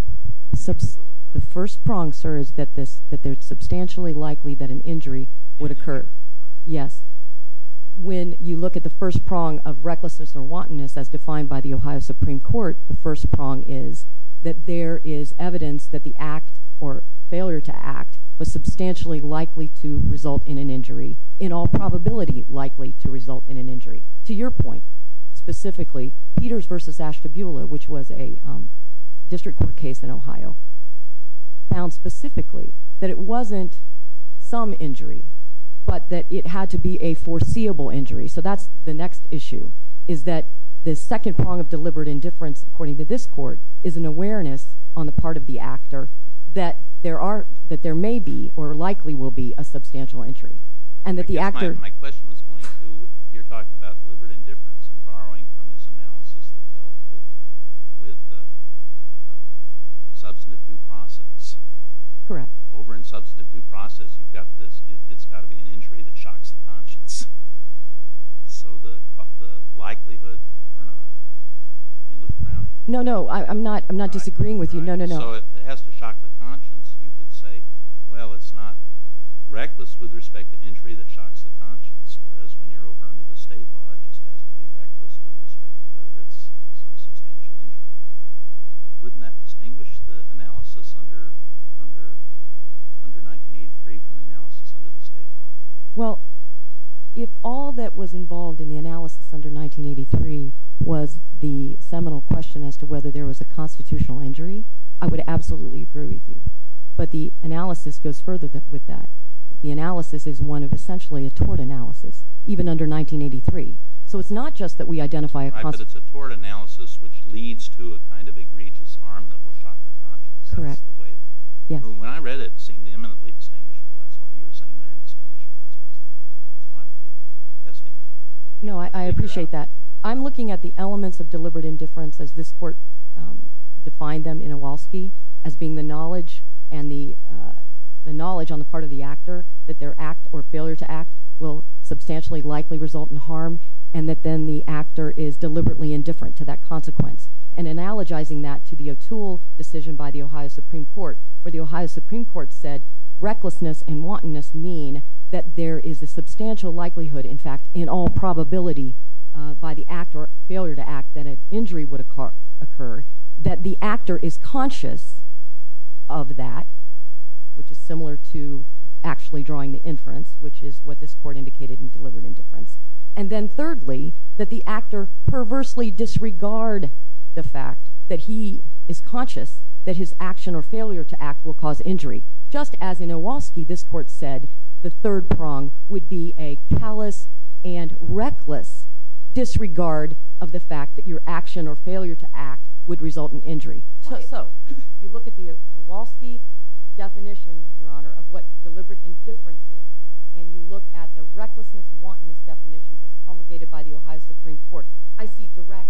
2012-03-17, 2012-03-19, 2012-03-19, March 23, 2012-03-19, May 5, 2012-03-19, May 6, 2012-03-19, May 7, 2012-03-19, May 8, 2012-03-19, May 9, 2012-03-19, May 10, 2012-03-19, May 11, May 8, 2012-03-19, May 9, 2012-03-19, May 10, 2012-03-19, May 9, 2012-03-19, May 10, 2012-03-19, May 9, 2012-03-19, May 8, 2012-03-19, May 9, 2012-03-19, May 10, 2015-04-19, May 8, 2014-05-2017, May 9, 2014-05-2017, May 10, 2014-05-2017, May 9, 2014-05-2017, May 9, 2014-05-2017, May 9, 2014-05-2017, May 10, 2014-05-2017, May 9, 2014-05-2017, May 10, 2014-05-2011, May 9, 2014-05-2011, May providence, U.S. Department of Justice, Office of Justice, there is evidence that the act, or failure to act, was substantially likely to result in an injury, in all probability likely to result in an injury. To your point, specifically, Peters v. Ashtabula, which was a district court case in Ohio, found specifically that it wasn't some injury, but that it had to be a foreseeable injury. So that's the next issue, is that the second prong of deliberate indifference, according to this court, is an awareness on the part of the actor that there are, that there may be, or likely will be, a substantial injury, and that the actor- I guess my question was going to, you're talking about deliberate indifference, and borrowing from this analysis that dealt with the substantive due process. Correct. Over in substantive due process, you've got this, it's got to be an injury that shocks the conscience. So the likelihood, or not, are you looking around me? No, no, I'm not disagreeing with you. So it has to shock the conscience. You could say, well, it's not reckless with respect to injury that shocks the conscience, whereas when you're over under the state law, it just has to be reckless with respect to whether it's some substantial injury. Wouldn't that distinguish the analysis under 1983 from the analysis under the state law? Well, if all that was involved in the analysis under 1983 was the seminal question as to whether there was a constitutional injury, I would absolutely agree with you. But the analysis goes further with that. The analysis is one of essentially a tort analysis, even under 1983. So it's not just that we identify- Right, but it's a tort analysis which leads to a kind of egregious harm that will shock the conscience. Correct. That's the way- Yes. When I read it, it seemed eminently distinguishable. That's why you were saying they're indistinguishable. That's why I'm protesting that. No, I appreciate that. I'm looking at the elements of deliberate indifference as this Supreme Court defined them in Iwalski as being the knowledge and the knowledge on the part of the actor that their act or failure to act will substantially likely result in harm and that then the actor is deliberately indifferent to that consequence. And analogizing that to the O'Toole decision by the Ohio Supreme Court, where the Ohio Supreme Court said, recklessness and wantonness mean that there is a substantial likelihood, in fact, in all that the actor is conscious of that, which is similar to actually drawing the inference, which is what this court indicated in deliberate indifference. And then thirdly, that the actor perversely disregard the fact that he is conscious that his action or failure to act will cause injury. Just as in Iwalski, this court said the third prong would be a callous and reckless disregard of the fact that your action or failure to act would result in injury. So, if you look at the Iwalski definition, Your Honor, of what deliberate indifference is, and you look at the recklessness and wantonness definitions promulgated by the Ohio Supreme Court, I see direct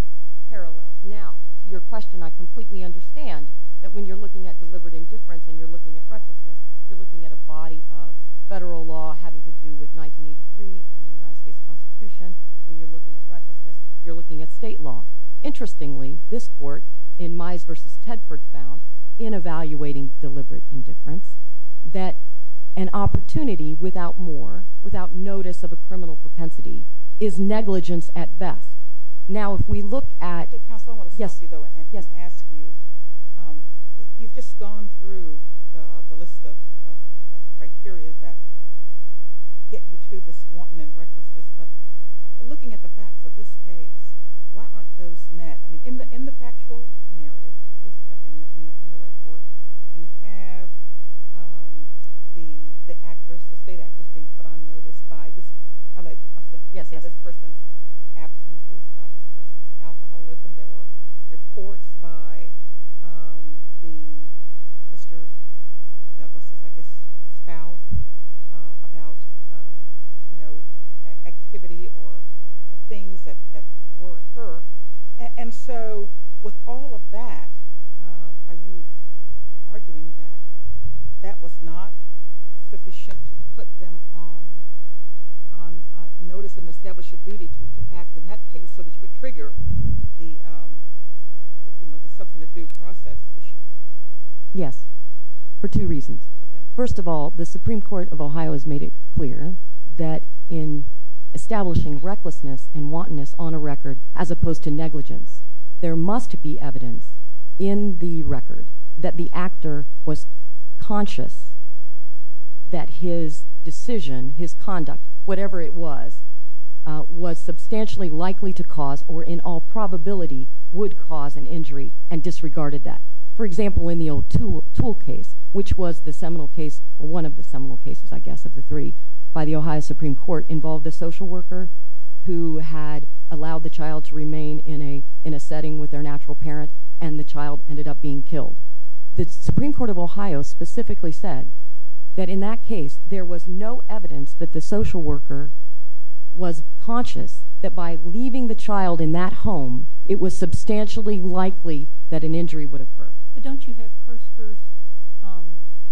parallels. Now, to your question, I completely understand that when you're looking at deliberate indifference and you're looking at recklessness, you're looking at a body of federal law having to do with 1983 and the United States Constitution. When you're looking at recklessness, you're looking at state law. Interestingly, this court, in Mize v. Tedford, found, in evaluating deliberate indifference, that an opportunity without more, without notice of a criminal propensity, is negligence at best. Now, if we look at... Counsel, I want to stop you, though, and ask you. You've just gone through the list of cases. I'm curious about...get you to this wantonness and recklessness, but looking at the facts of this case, why aren't those met? I mean, in the factual narrative, in the report, you have the actress, the state actress, being put on notice by this alleged offender. Yes, yes. By this person's absences, by this person's alcoholism. There were reports by Mr. Douglas' spouse about activity or things that were at her. And so, with all of that, are you arguing that that was not sufficient to put them on notice and establish a duty to act in that case so that you would trigger the something-to-do process issue? Yes. For two reasons. First of all, the Supreme Court of Ohio has made it clear that in establishing recklessness and wantonness on a record, as opposed to negligence, there must be evidence in the record that the actor was conscious that his decision, his conduct, whatever it was, was substantially likely to cause, or in all probability would cause an injury and disregarded that. For example, in the old tool case, which was the seminal case, one of the seminal cases, I guess, of the three, by the Ohio Supreme Court, involved a social worker who had allowed the child to remain in a setting with their natural parent, and the child ended up being killed. The Supreme Court of Ohio specifically said that in that case, there was no evidence that the social worker was conscious that by leaving the child in that home, it was substantially likely that an injury would occur. But don't you have Kirsker's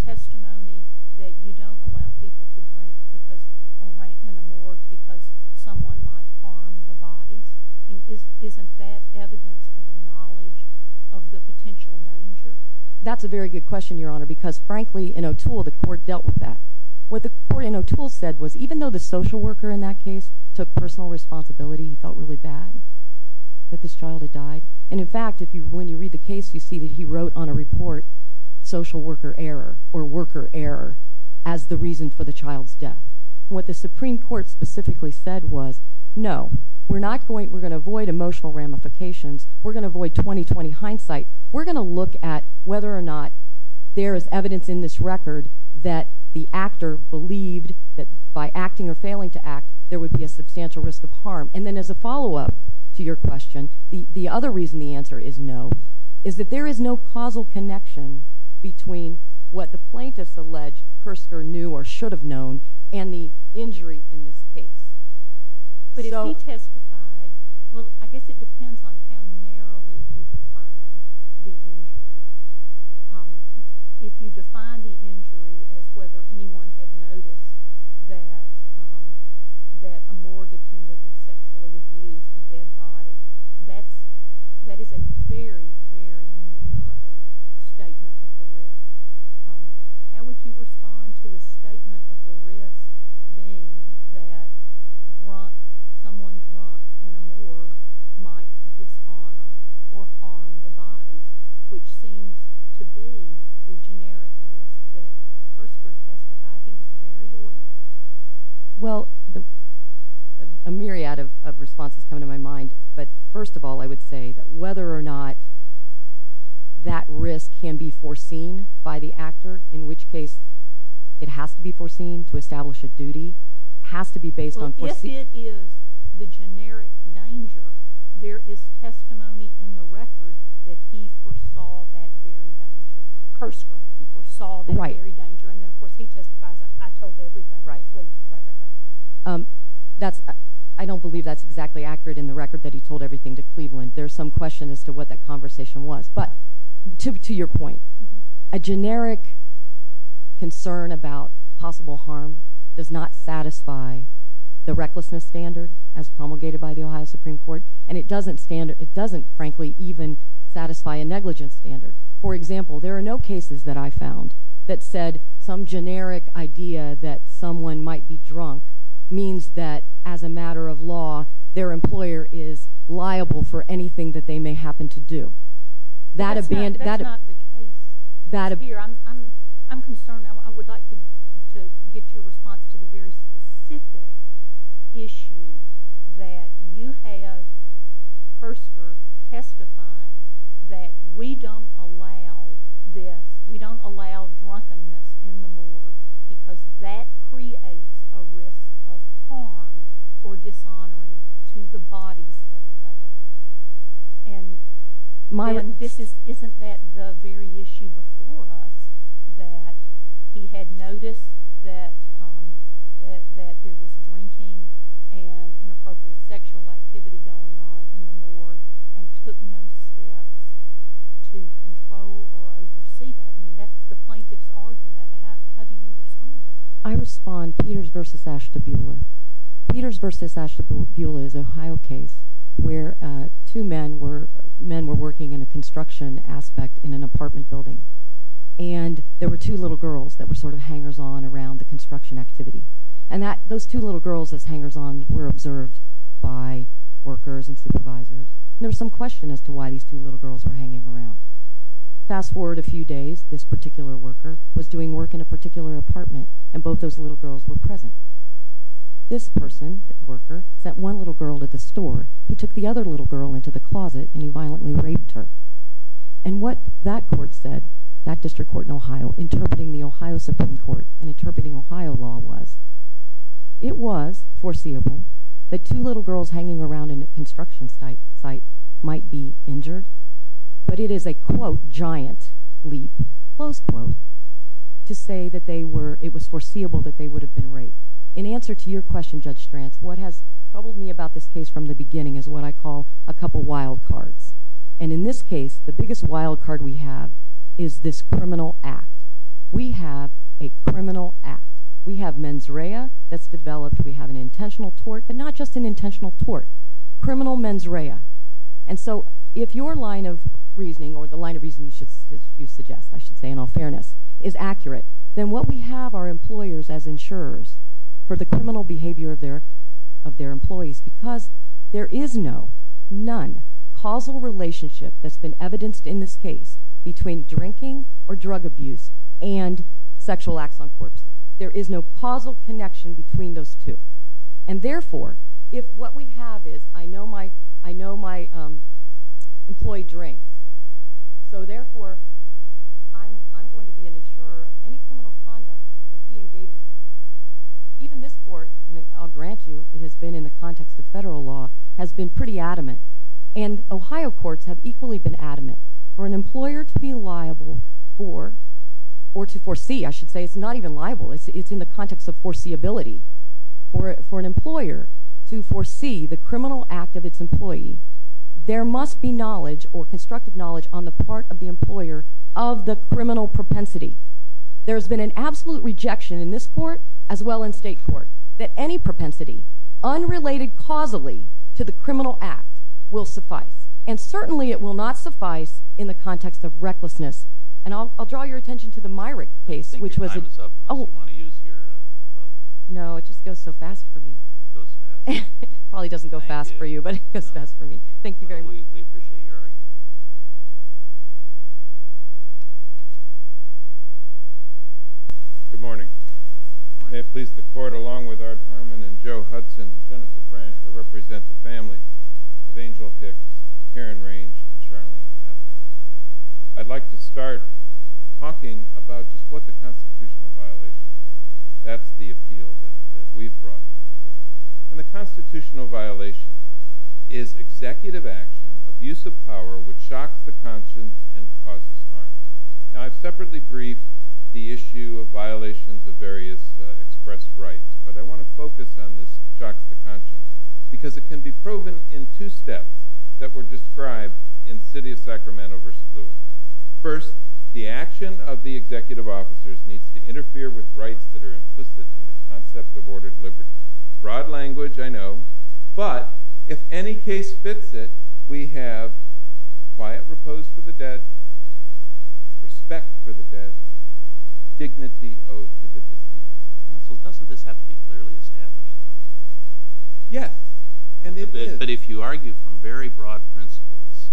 testimony that you don't allow people to drink in a morgue because someone might harm the bodies? Isn't that evidence of the knowledge of the potential danger? That's a very good question, Your Honor, because frankly, in O'Toole, the court dealt with that. What the court in O'Toole said was, even though the social worker in that case took personal responsibility, he felt really bad that this child had died. And in fact, when you read the case, you see that he wrote on a report, social worker error or worker error as the reason for the child's death. What the Supreme Court specifically said was, no, we're going to avoid emotional ramifications. We're going to avoid 20-20 hindsight. We're going to look at whether or not there is evidence in this record that the actor believed that by acting or failing to act, there would be a substantial risk of harm. And then as a follow-up to your question, the other reason the answer is no is that there is no causal connection between what the plaintiffs allege Kirsker knew or should have known and the injury in this case. But if he testified—well, I guess it depends on how narrowly you define the injury. If you define the injury as whether anyone had noticed that a morgue attendant would sexually abuse a dead body, that is a very, very narrow statement of the risk. How would you respond to a statement of the risk being that someone drunk in a morgue might dishonor or harm the victim? Well, a myriad of responses come to my mind. But first of all, I would say that whether or not that risk can be foreseen by the actor, in which case it has to be foreseen to establish a duty, has to be based on— Well, if it is the generic danger, there is testimony in the record that he foresaw that very danger. Right. And then, of course, he testifies, I told everything. Right. Right, right, right. I don't believe that is exactly accurate in the record that he told everything to Cleveland. There is some question as to what that conversation was. But to your point, a generic concern about possible harm does not satisfy the recklessness standard as promulgated by the Ohio Supreme Court, and it doesn't, frankly, even satisfy a negligence standard. For example, there are no cases that I found that said some generic idea that someone might be drunk means that, as a matter of law, their employer is liable for anything that they may happen to do. That's not the case here. I'm concerned. I would like to get your response to the very We don't allow this. We don't allow drunkenness in the morgue because that creates a risk of harm or dishonoring to the bodies that are there. And— Myron— Isn't that the very issue before us, that he had noticed that there was drinking and that he was not allowed to control or oversee that? I mean, that's the plaintiff's argument. How do you respond to that? I respond Peters v. Ashtabula. Peters v. Ashtabula is an Ohio case where two men were working in a construction aspect in an apartment building, and there were two little girls that were sort of hangers-on around the construction activity. And that—those two little girls were hanging around. Fast forward a few days. This particular worker was doing work in a particular apartment, and both those little girls were present. This person, that worker, sent one little girl to the store. He took the other little girl into the closet, and he violently raped her. And what that court said, that district court in Ohio, interpreting the Ohio Supreme Court and interpreting Ohio law was, it was foreseeable that two little girls hanging around in a construction site might be injured. But it is a, quote, giant leap, close quote, to say that they were—it was foreseeable that they would have been raped. In answer to your question, Judge Stranz, what has troubled me about this case from the beginning is what I call a couple wild cards. And in this case, the biggest wild card we have is this criminal act. We have a criminal act. We have mens rea that's criminal mens rea. And so if your line of reasoning, or the line of reasoning you suggest, I should say, in all fairness, is accurate, then what we have are employers as insurers for the criminal behavior of their employees, because there is no, none, causal relationship that's been evidenced in this case between drinking or drug abuse and sexual acts on corpses. There is no causal connection between those two. And therefore, if what we have is, I know my, I know my employee drinks, so therefore, I'm going to be an insurer of any criminal conduct that he engages in. Even this Court, and I'll grant you it has been in the context of federal law, has been pretty adamant. And Ohio courts have equally been adamant. For an employer to be liable for, or to foresee, I should say, it's not even liable. It's in the context of foreseeability. For an employer to foresee the criminal act of its employee, there must be knowledge, or constructive knowledge, on the part of the employer of the criminal propensity. There has been an absolute rejection in this Court, as well in state court, that any propensity unrelated causally to the criminal act will suffice. And certainly it will not suffice in the context of recklessness. And I'll draw your attention to the Myrick case, which was No, it just goes so fast for me. It probably doesn't go fast for you, but it goes fast for me. Thank you very much. Good morning. May it please the Court, along with Art Harmon and Joe Hudson and Jennifer Branch, I represent the families of Angel Hicks, Karen Range, and Charlene Epple. I'd like to start talking about just what the constitutional violation is. That's the appeal that we've brought to the Court. And the constitutional violation is executive action, abuse of power, which shocks the conscience and causes harm. Now, I've separately briefed the issue of violations of various expressed rights, but I want to focus on this shocks the conscience, because it can be proven in two steps that were described in City of Sacramento v. Lewis. First, the action of the executive officers needs to interfere with rights that are implicit in the concept of ordered liberty. Broad language, I know, but if any case fits it, we have quiet repose for the dead, respect for the dead, dignity owed to the deceased. Counsel, doesn't this have to be clearly established, though? Yes, and it is. But if you argue from very broad principles,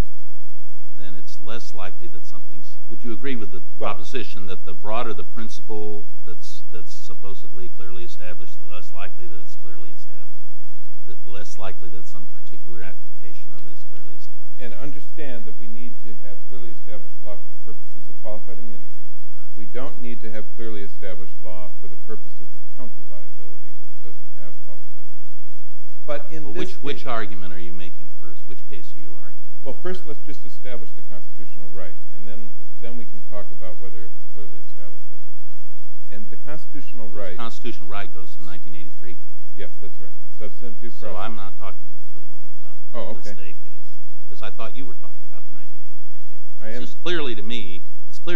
then it's less likely that something's... Would you agree with the proposition that the broader the principle that's supposedly clearly established, the less likely that it's clearly established, the less likely that some particular application of it is clearly established? And understand that we need to have clearly established law for the purposes of qualified immunity. We don't need to have clearly established law for the purposes of county liability, which doesn't have qualified immunity. Which argument are you making first? Which case are you arguing? Well, first let's just establish the constitutional right, and then we can talk about whether it was clearly established or not. And the constitutional right... The constitutional right goes to 1983. Yes, that's right. So I'm not talking for the moment about the state case. Oh, okay. Because I thought you were talking about the 1983 case. I am. It's clear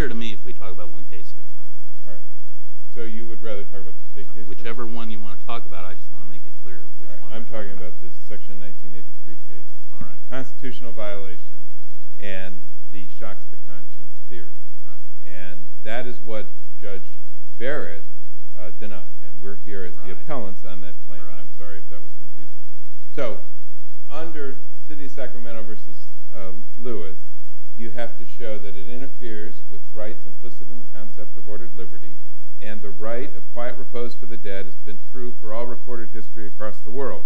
to me if we talk about one case at a time. All right. So you would rather talk about the state case? Whichever one you want to talk about, I just want to make it clear which one I'm talking about. I'm talking about the Section 1983 case. All right. Constitutional violations and the shocks to conscience theory. Right. And that is what Judge Barrett denied. And we're here as the appellants on that claim. Right. And I'm sorry if that was confusing. So under City of Sacramento v. Lewis, you have to show that it interferes with rights Quiet repose for the dead has been true for all recorded history across the world.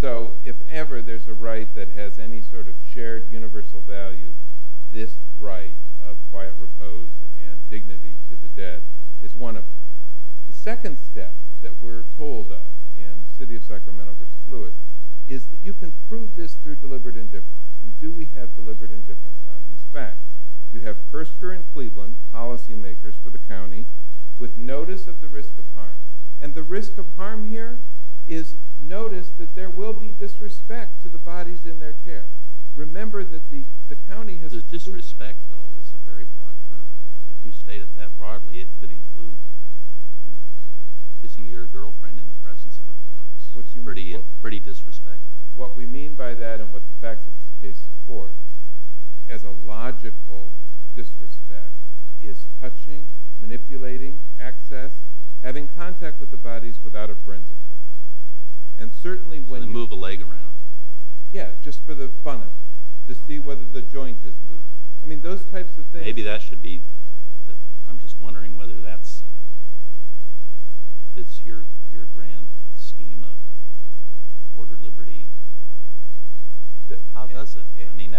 So if ever there's a right that has any sort of shared universal value, this right of quiet repose and dignity to the dead is one of them. The second step that we're told of in City of Sacramento v. Lewis is that you can prove this through deliberate indifference. And do we have deliberate indifference on these facts? You have Hurster and Cleveland, policymakers for the county, with notice of the risk of harm. And the risk of harm here is notice that there will be disrespect to the bodies in their care. Remember that the county has a dispute. The disrespect, though, is a very broad term. If you state it that broadly, it could include, you know, kissing your girlfriend in the presence of a corpse. Pretty disrespectful. What we mean by that and what the facts of this case support, as a logical disrespect, is touching, manipulating, access, having contact with the bodies without a forensic person. And certainly when you... To move a leg around. Yeah, just for the fun of it. To see whether the joint is moving. I mean, those types of things. Maybe that should be... I'm just wondering whether that fits your grand scheme of ordered liberty. How does it? I mean,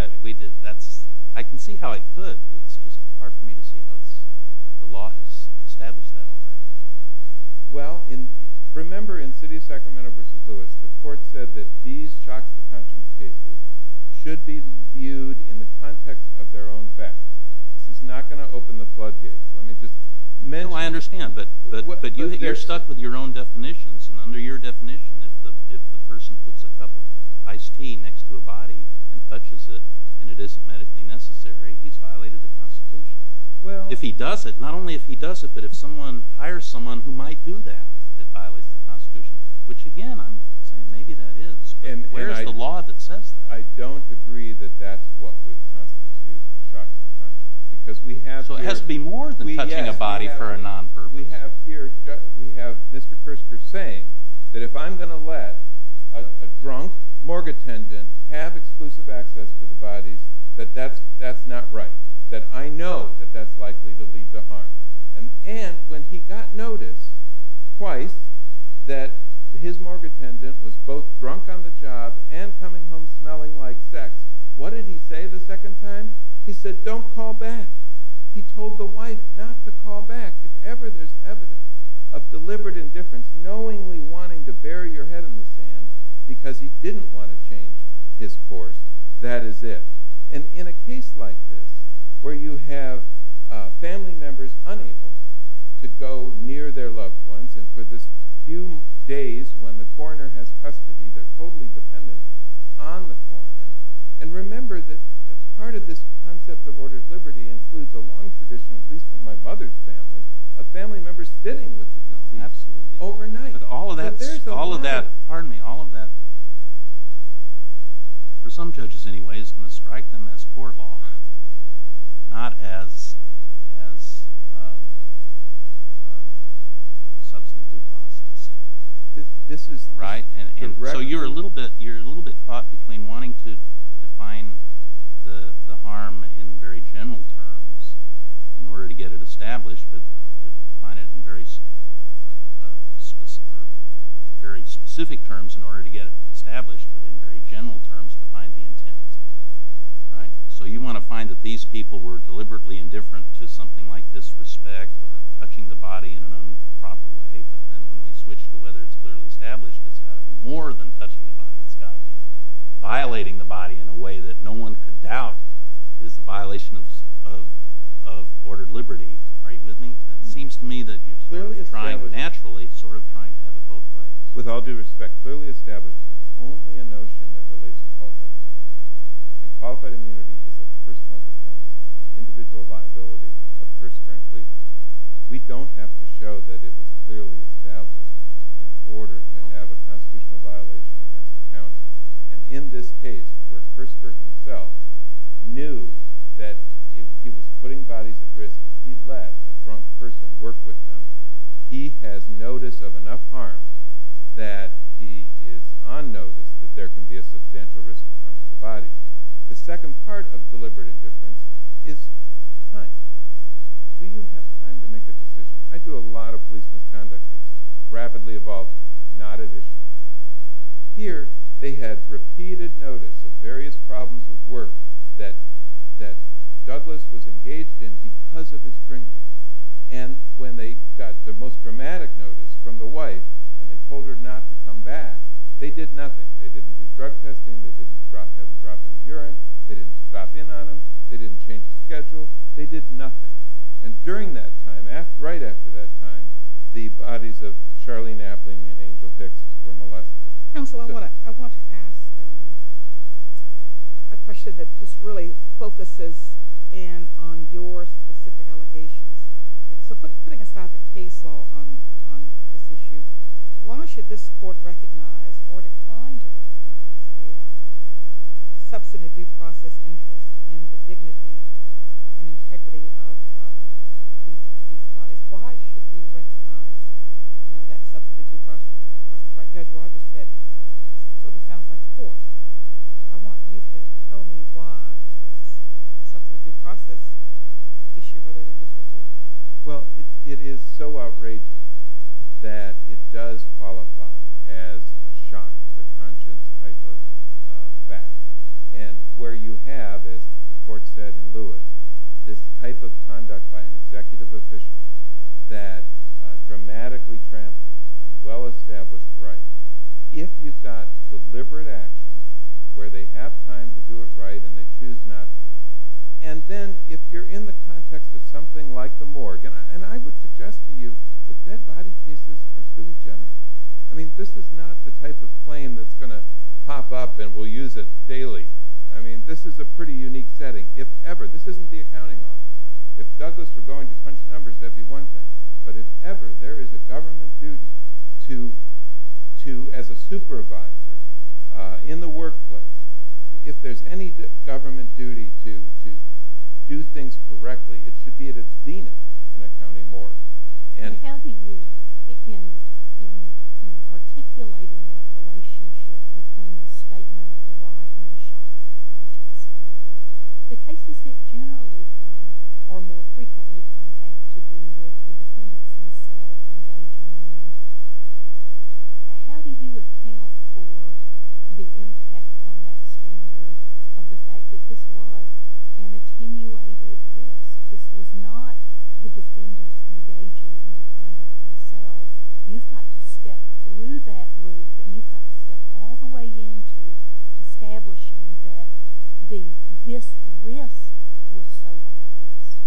I can see how it could. It's just hard for me to see how the law has established that already. Well, remember in City of Sacramento v. Lewis, the court said that these shock to conscience cases should be viewed in the context of their own facts. This is not going to open the floodgates. Let me just mention... No, I understand. But you're stuck with your own definitions. And under your definition, if the person puts a cup of iced tea next to a body and touches it and it isn't medically necessary, he's violated the Constitution. If he does it, not only if he does it, but if someone hires someone who might do that, it violates the Constitution. Which, again, I'm saying maybe that is. But where is the law that says that? I don't agree that that's what would constitute a shock to conscience. So it has to be more than touching a body for a non-purpose. We have here Mr. Kirster saying that if I'm going to let a drunk morgue attendant have exclusive access to the bodies, that that's not right. That I know that that's likely to lead to harm. And when he got notice twice that his morgue attendant was both drunk on the job and coming home smelling like sex, what did he say the second time? He said, don't call back. He told the wife not to call back. If ever there's evidence of deliberate indifference, knowingly wanting to bury your head in the sand because he didn't want to change his course, that is it. And in a case like this, where you have family members unable to go near their loved ones, and for the few days when the coroner has custody, they're totally dependent on the coroner. And remember that part of this concept of ordered liberty includes a long tradition, at least in my mother's family, of family members sitting with the deceased overnight. But all of that, for some judges anyway, is going to strike them as court law, not as substantive process. So you're a little bit caught between wanting to define the harm in very general terms in order to get it established, but to define it in very specific terms in order to get it established, but in very general terms to find the intent. So you want to find that these people were deliberately indifferent to something like disrespect or touching the body in an improper way, but then when we switch to whether it's clearly established, it's got to be more than touching the body. It's got to be violating the body in a way that no one could doubt is a violation of ordered liberty. Are you with me? It seems to me that you're naturally sort of trying to have it both ways. With all due respect, clearly established is only a notion that relates to qualified immunity. And qualified immunity is a personal defense of the individual liability of a person in Cleveland. We don't have to show that it was clearly established in order to have a constitutional violation against the county. And in this case where Kirster himself knew that if he was putting bodies at risk, if he let a drunk person work with them, he has notice of enough harm that he is on notice that there can be a substantial risk of harm to the body. The second part of deliberate indifference is time. Do you have time to make a decision? I do a lot of police misconduct cases, rapidly evolving, not additional. Here they had repeated notice of various problems with work that Douglas was engaged in because of his drinking. And when they got the most dramatic notice from the wife and they told her not to come back, they did nothing. They didn't do drug testing, they didn't have him drop any urine, they didn't stop in on him, they didn't change his schedule, they did nothing. And during that time, right after that time, the bodies of Charlene Appling and Angel Hicks were molested. Counsel, I want to ask a question that just really focuses in on your specific allegations. So putting aside the case law on this issue, why should this court recognize or decline to recognize a substantive due process interest in the dignity and integrity of these bodies? Why should we recognize that substantive due process? Judge Rogers said it sort of sounds like court. I want you to tell me why it's a substantive due process issue rather than just a court issue. It is so outrageous that it does qualify as a shock to the conscience type of fact. And where you have, as the court said in Lewis, this type of conduct by an executive official that dramatically tramples on well-established rights, if you've got deliberate action where they have time to do it right and they choose not to, and then if you're in the context of something like the morgue, and I would suggest to you that dead body pieces are sui generis. I mean, this is not the type of claim that's going to pop up and we'll use it daily. I mean, this is a pretty unique setting. If ever, this isn't the accounting office. If Douglas were going to punch numbers, that'd be one thing. But if ever there is a government duty to, as a supervisor in the workplace, if there's any government duty to do things correctly, it should be at its zenith in a county morgue. How do you, in articulating that relationship between the statement of the right and the shock of the conscience standard, the cases that generally come, or more frequently come, have to do with the defendants themselves engaging in the infanticide. How do you account for the impact on that standard of the fact that this was an attenuated risk? This was not the defendants engaging in the conduct themselves. You've got to step through that loop, and you've got to step all the way into establishing that this risk was so obvious.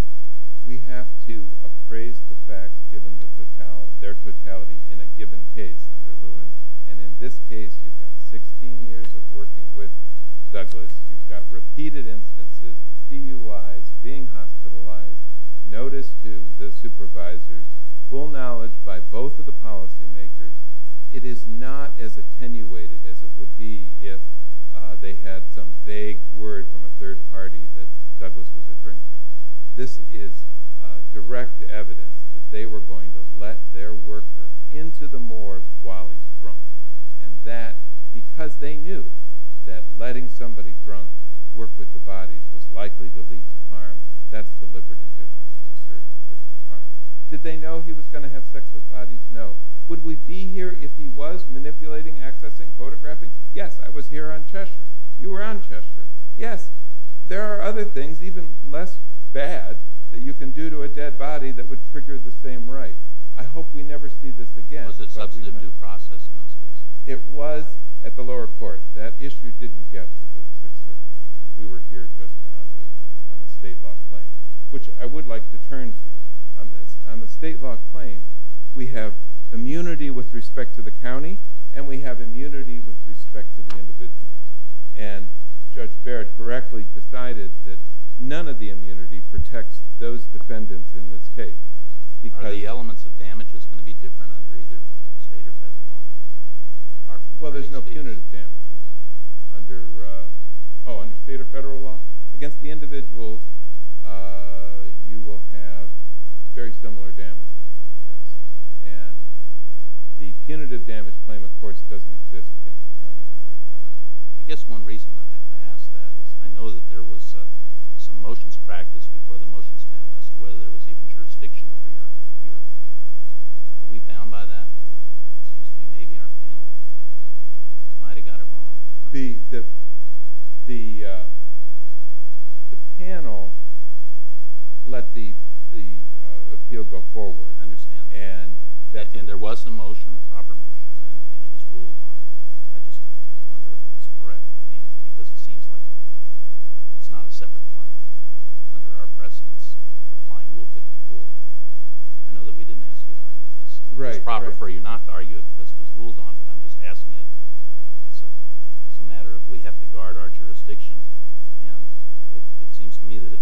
We have to appraise the facts, given their totality, in a given case under Lewis. And in this case, you've got 16 years of working with Douglas. You've got repeated instances of DUIs being hospitalized. Notice to the supervisors, full knowledge by both of the policymakers, it is not as attenuated as it would be if they had some vague word from a third party that Douglas was a drinker. This is direct evidence that they were going to let their worker into the morgue while he's drunk. And because they knew that letting somebody drunk work with the bodies was likely to lead to harm, that's deliberate indifference to a serious risk of harm. Did they know he was going to have sex with bodies? No. Would we be here if he was manipulating, accessing, photographing? Yes, I was here on Cheshire. You were on Cheshire. Yes, there are other things, even less bad, that you can do to a dead body that would trigger the same right. I hope we never see this again. Was it substantive due process in those cases? It was at the lower court. That issue didn't get to the Sixth Circuit. We were here just on the state law claim, which I would like to turn to on this. On the state law claim, we have immunity with respect to the county, and we have immunity with respect to the individuals. And Judge Barrett correctly decided that none of the immunity protects those defendants in this case. Are the elements of damages going to be different under either state or federal law? Well, there's no punitive damages under state or federal law. Against the individuals, you will have very similar damages. And the punitive damage claim, of course, doesn't exist against the county. I guess one reason I ask that is I know that there was some motions practiced before the motions panel as to whether there was even jurisdiction over your appeal. Are we bound by that? It seems to me maybe our panel might have got it wrong. The panel let the appeal go forward. I understand. And there was a motion, a proper motion, and it was ruled on. I just wonder if it was correct. Because it seems like it's not a separate claim under our precedence applying Rule 54. I know that we didn't ask you to argue this. It's proper for you not to argue it because it was ruled on, but I'm just asking it as a matter of we have to guard our jurisdiction. And it seems to me that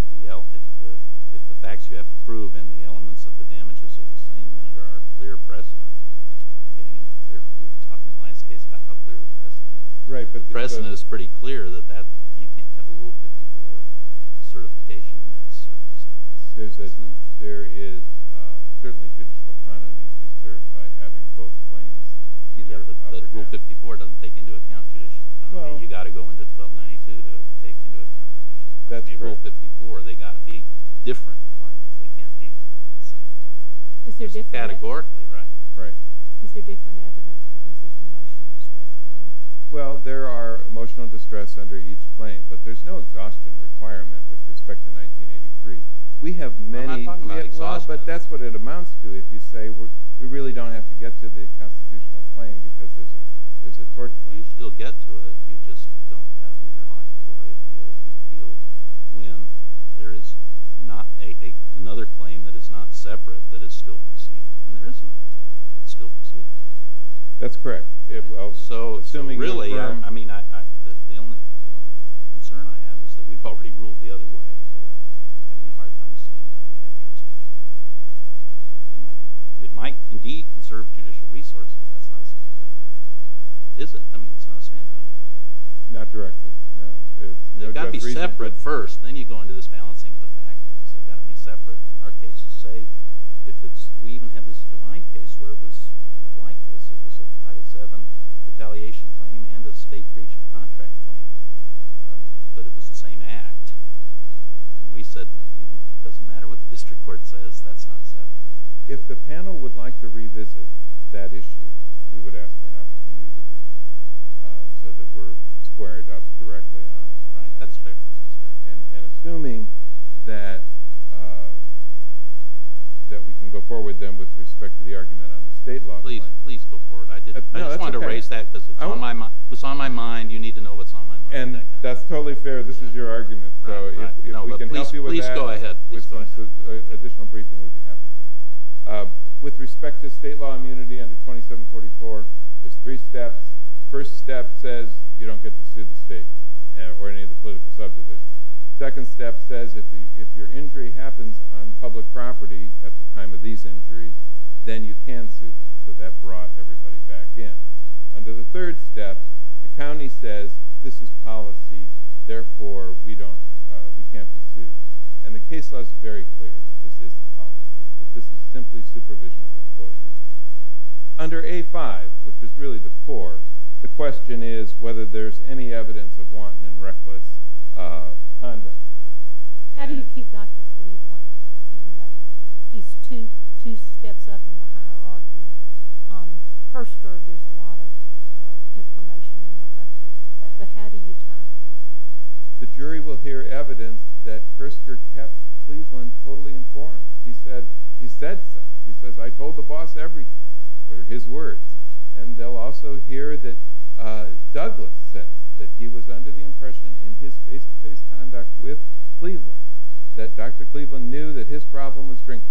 if the facts you have to prove and the elements of the damages are the same, then under our clear precedent, we were talking in the last case about how clear the precedent is. The precedent is pretty clear that you can't have a Rule 54 certification in that circumstance. There is certainly judicial autonomy to be served by having both claims. Yeah, but Rule 54 doesn't take into account judicial autonomy. You've got to go into 1292 to take into account judicial autonomy. Rule 54, they've got to be different claims. They can't be the same claims. Categorically, right. Is there different evidence because there's an emotional distress claim? Well, there are emotional distress under each claim, but there's no exhaustion requirement with respect to 1983. I'm not talking about exhaustion. But that's what it amounts to if you say we really don't have to get to the constitutional claim because there's a court claim. You still get to it. You just don't have an interlocutory appeal to be healed when there is not another claim that is not separate that is still proceeding. And there is another that's still proceeding. That's correct. So really, the only concern I have is that we've already ruled the other way. But I'm having a hard time seeing how we have jurisdiction. It might indeed conserve judicial resources, but that's not a standard. Is it? I mean, it's not a standard. Not directly, no. They've got to be separate first. Then you go into this balancing of the factors. They've got to be separate. In our case, we even have this DeWine case where it was kind of like this. It was a Title VII retaliation claim and a state breach of contract claim, but it was the same act. And we said it doesn't matter what the district court says. That's not separate. If the panel would like to revisit that issue, we would ask for an opportunity to brief them so that we're squared up directly on it. That's fair. And assuming that we can go forward then with respect to the argument on the state law claim. Please go forward. I just wanted to raise that because it was on my mind. You need to know what's on my mind. That's totally fair. This is your argument. So if we can help you with that, an additional briefing would be happy to do. With respect to state law immunity under 2744, there's three steps. The first step says you don't get to sue the state or any of the political subdivisions. The second step says if your injury happens on public property at the time of these injuries, then you can sue them. So that brought everybody back in. Under the third step, the county says this is policy, therefore we can't be sued. And the case law is very clear that this isn't policy, that this is simply supervision of employees. Under A-5, which is really the core, the question is whether there's any evidence of wanton and reckless conduct. How do you keep Dr. Cleveland? He's two steps up in the hierarchy. Hirsker, there's a lot of information in the record. But how do you time him? The jury will hear evidence that Hirsker kept Cleveland totally informed. He said so. He says, I told the boss everything were his words. And they'll also hear that Douglas says that he was under the impression in his face-to-face conduct with Cleveland that Dr. Cleveland knew that his problem was drinking.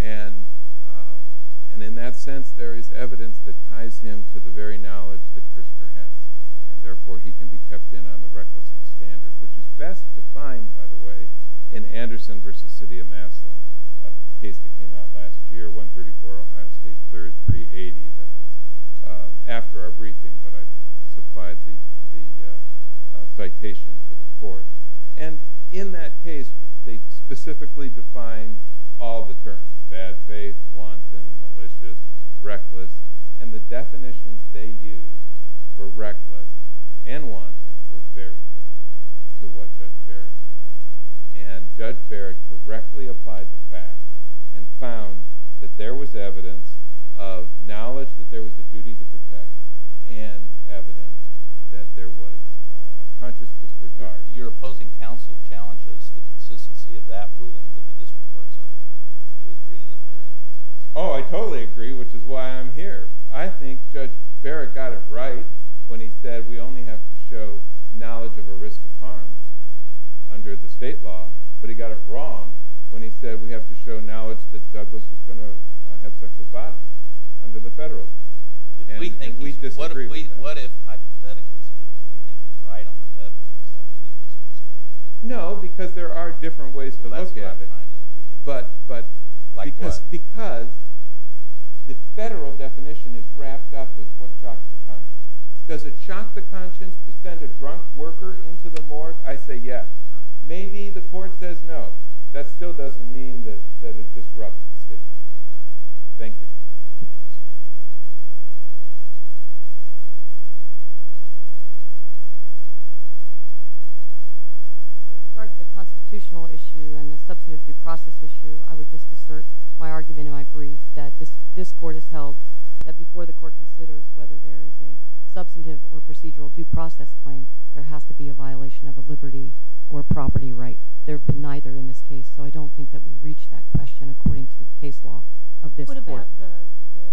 And in that sense, there is evidence that ties him to the very knowledge that Hirsker has, and therefore he can be kept in on the recklessness standard, which is best defined, by the way, in Anderson v. City of Massillon, a case that came out last year, 134 Ohio State 3rd, 380. That was after our briefing, but I supplied the citation to the court. And in that case, they specifically defined all the terms, bad faith, wanton, malicious, reckless. And the definitions they used for reckless and wanton were very clear. And Judge Barrett correctly applied the fact and found that there was evidence of knowledge that there was a duty to protect and evidence that there was a conscious disregard. Your opposing counsel challenges the consistency of that ruling with the district court's other ruling. Do you agree that there is? Oh, I totally agree, which is why I'm here. I think Judge Barrett got it right when he said we only have to show knowledge of a risk of harm under the state law, but he got it wrong when he said we have to show knowledge that Douglass was going to have sex with Bottoms under the federal definition. And we disagree with that. What if, hypothetically speaking, we think he's right on the federal definition instead of using the state law? No, because there are different ways to look at it. Like what? Because the federal definition is wrapped up with what shocks the country. Does it shock the conscience to send a drunk worker into the morgue? I say yes. Maybe the court says no. That still doesn't mean that it disrupts the state law. Thank you. With regard to the constitutional issue and the substantive due process issue, I would just assert my argument in my brief that this court has held that before the court considers whether there is a substantive or procedural due process claim, there has to be a violation of a liberty or property right. There have been neither in this case, so I don't think that we reach that question according to the case law of this court. What about the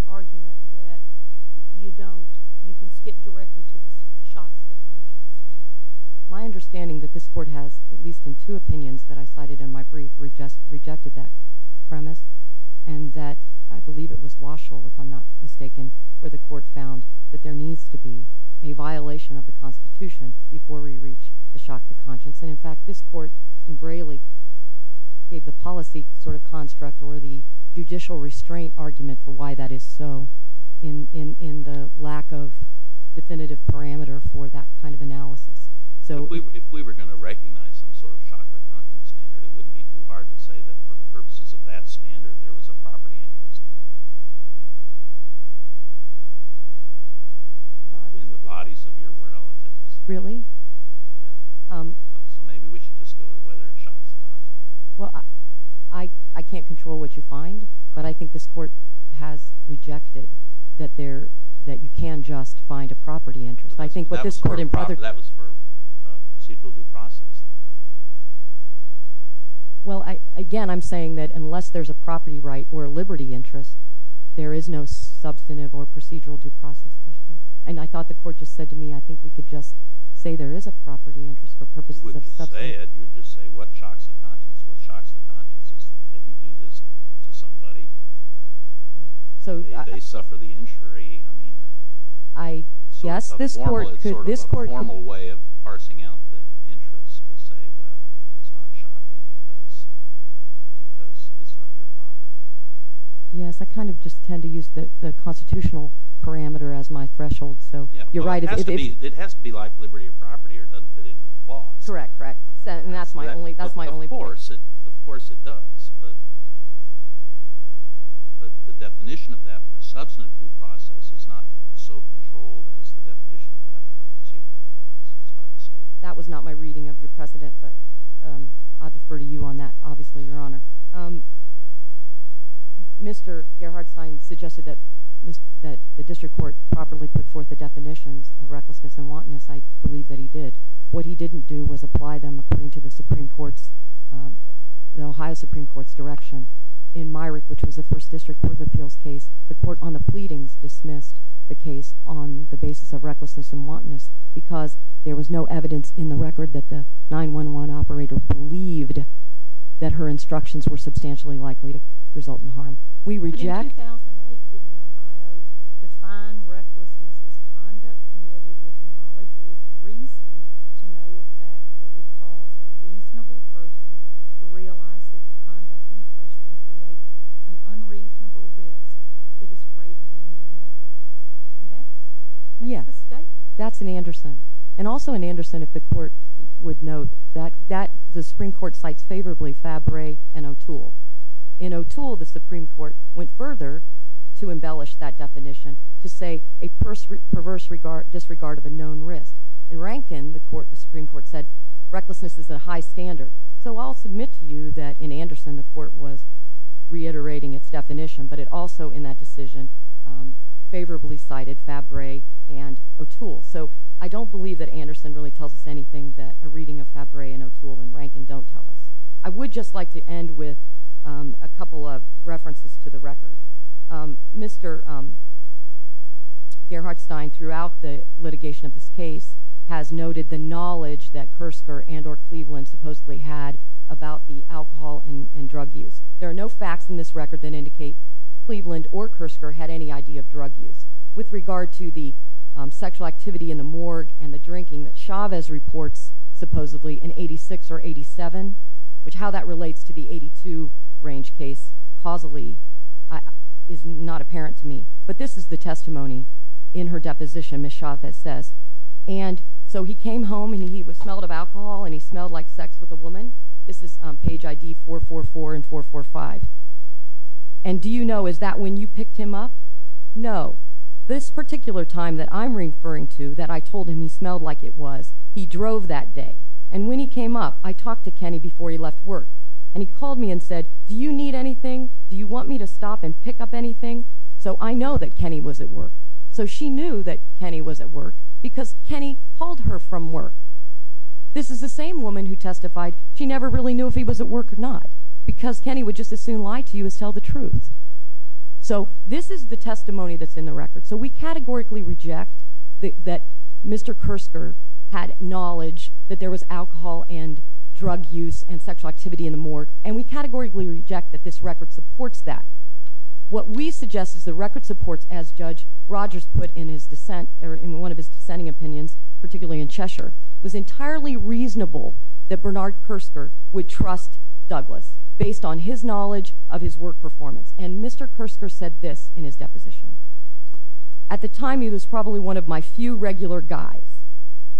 argument that you don't, you can skip directly to the shocks the country is facing? My understanding that this court has, at least in two opinions that I cited in my brief, rejected that premise and that I believe it was Waschel, if I'm not mistaken, where the court found that there needs to be a violation of the Constitution before we reach the shock to conscience. In fact, this court in Braley gave the policy sort of construct or the judicial restraint argument for why that is so in the lack of definitive parameter for that kind of analysis. If we were going to recognize some sort of shock or conscience standard, it wouldn't be too hard to say that for the purposes of that standard there was a property interest in the bodies of your relatives. Really? Yeah. So maybe we should just go to whether it shocks the country. Well, I can't control what you find, but I think this court has rejected that you can just find a property interest. That was for a procedural due process. Well, again, I'm saying that unless there's a property right or a liberty interest, there is no substantive or procedural due process question. And I thought the court just said to me, I think we could just say there is a property interest for purposes of substantive. You would just say it. You would just say what shocks the conscience? What shocks the conscience is that you do this to somebody? They suffer the injury. Yes, this court could. It's sort of a formal way of parsing out the interest to say, well, it's not shocking because it's not your property. Yes, I kind of just tend to use the constitutional parameter as my threshold. You're right. It has to be like liberty or property or it doesn't fit into the clause. Correct, correct. And that's my only point. Of course it does. But the definition of that for substantive due process is not so controlled as the definition of that for procedural due process by the state. That was not my reading of your precedent, but I'll defer to you on that, obviously, Your Honor. Mr. Gerhardstein suggested that the district court properly put forth the definitions of recklessness and wantonness. I believe that he did. What he didn't do was apply them according to the Supreme Court's, the Ohio Supreme Court's direction. In Myrick, which was the first district court of appeals case, the court on the pleadings dismissed the case on the basis of recklessness and wantonness because there was no evidence in the record that the 911 operator believed that her instructions were substantially likely to result in harm. We reject. But in 2008, didn't Ohio define recklessness as conduct committed with knowledge or with reason to know a fact that would cause a reasonable person to realize that the conduct in question creates an unreasonable risk that is greater than your net worth? And that's the statement. Yes, that's in Anderson. And also in Anderson, if the court would note, the Supreme Court cites favorably Fabre and O'Toole. In O'Toole, the Supreme Court went further to embellish that definition to say a perverse disregard of a known risk. In Rankin, the Supreme Court said recklessness is a high standard. So I'll submit to you that in Anderson the court was reiterating its definition, but it also in that decision favorably cited Fabre and O'Toole. So I don't believe that Anderson really tells us anything that a reading of Fabre and O'Toole in Rankin don't tell us. I would just like to end with a couple of references to the record. Mr. Gerhardstein, throughout the litigation of this case, has noted the knowledge that Kersker and or Cleveland supposedly had about the alcohol and drug use. There are no facts in this record that indicate Cleveland or Kersker had any idea of drug use. With regard to the sexual activity in the morgue and the drinking that Chavez reports supposedly in 86 or 87, how that relates to the 82 range case causally is not apparent to me. But this is the testimony in her deposition, Ms. Chavez says. And so he came home and he was smelled of alcohol and he smelled like sex with a woman. This is page ID 444 and 445. And do you know, is that when you picked him up? No. This particular time that I'm referring to, that I told him he smelled like it was, he drove that day. And when he came up, I talked to Kenny before he left work. And he called me and said, Do you need anything? Do you want me to stop and pick up anything? So I know that Kenny was at work. So she knew that Kenny was at work because Kenny called her from work. This is the same woman who testified she never really knew if he was at work or not because Kenny would just as soon lie to you as tell the truth. So this is the testimony that's in the record. So we categorically reject that Mr. Kersker had knowledge that there was alcohol and drug use and sexual activity in the morgue. And we categorically reject that this record supports that. What we suggest is the record supports, as Judge Rogers put in one of his dissenting opinions, particularly in Cheshire, was entirely reasonable that Bernard Kersker would trust Douglas based on his knowledge of his work performance. And Mr. Kersker said this in his deposition. At the time, he was probably one of my few regular guys.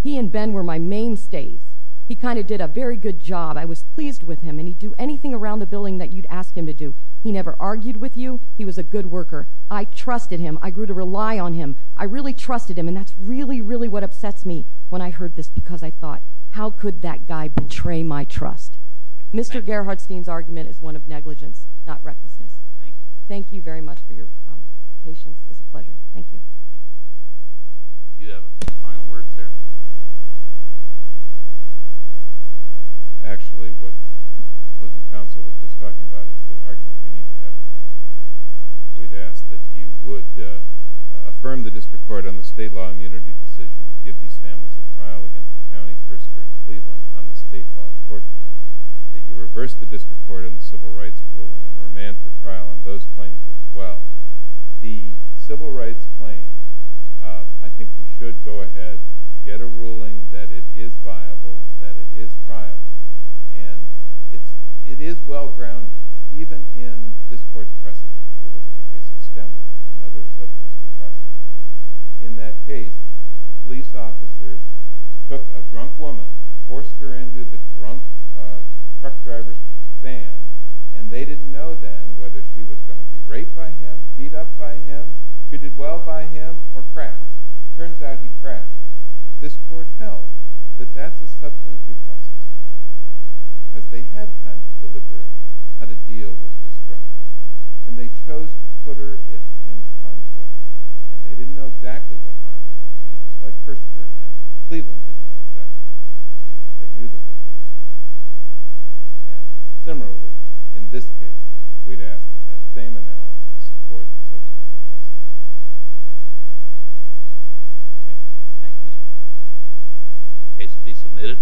He and Ben were my mainstays. He kind of did a very good job. I was pleased with him. And he'd do anything around the building that you'd ask him to do. He never argued with you. He was a good worker. I trusted him. I grew to rely on him. I really trusted him. And that's really, really what upsets me when I heard this because I thought, How could that guy betray my trust? Mr. Gerhardstein's argument is one of negligence, not recklessness. Thank you. Thank you very much for your patience. It was a pleasure. Thank you. Thank you. Do you have a final word, sir? Actually, what the opposing counsel was just talking about is the argument we need to have. We'd ask that you would affirm the district court on the state law immunity decision and give these families a trial against the county cursor in Cleveland on the state law court claim, that you reverse the district court on the civil rights ruling and remand for trial on those claims as well. The civil rights claim, I think we should go ahead, get a ruling that it is viable, that it is triable, and it is well-grounded. Even in this court's precedent, if you look at the case of Stemler, another substantive process. In that case, the police officers took a drunk woman, forced her into the drunk truck driver's van, and they didn't know then whether she was going to be raped by him, beat up by him, treated well by him, or cracked. It turns out he cracked her. This court held that that's a substantive process because they had time to deliberate how to deal with this drunk woman, and they chose to footer it in harm's way. And they didn't know exactly what harm it would be, just like Hursthurst and Cleveland didn't know exactly what harm it would be, but they knew what they were doing. And similarly, in this case, we'd ask that that same analysis supports the substantive process against the county. Thank you. Thank you, Mr. President. Case to be submitted.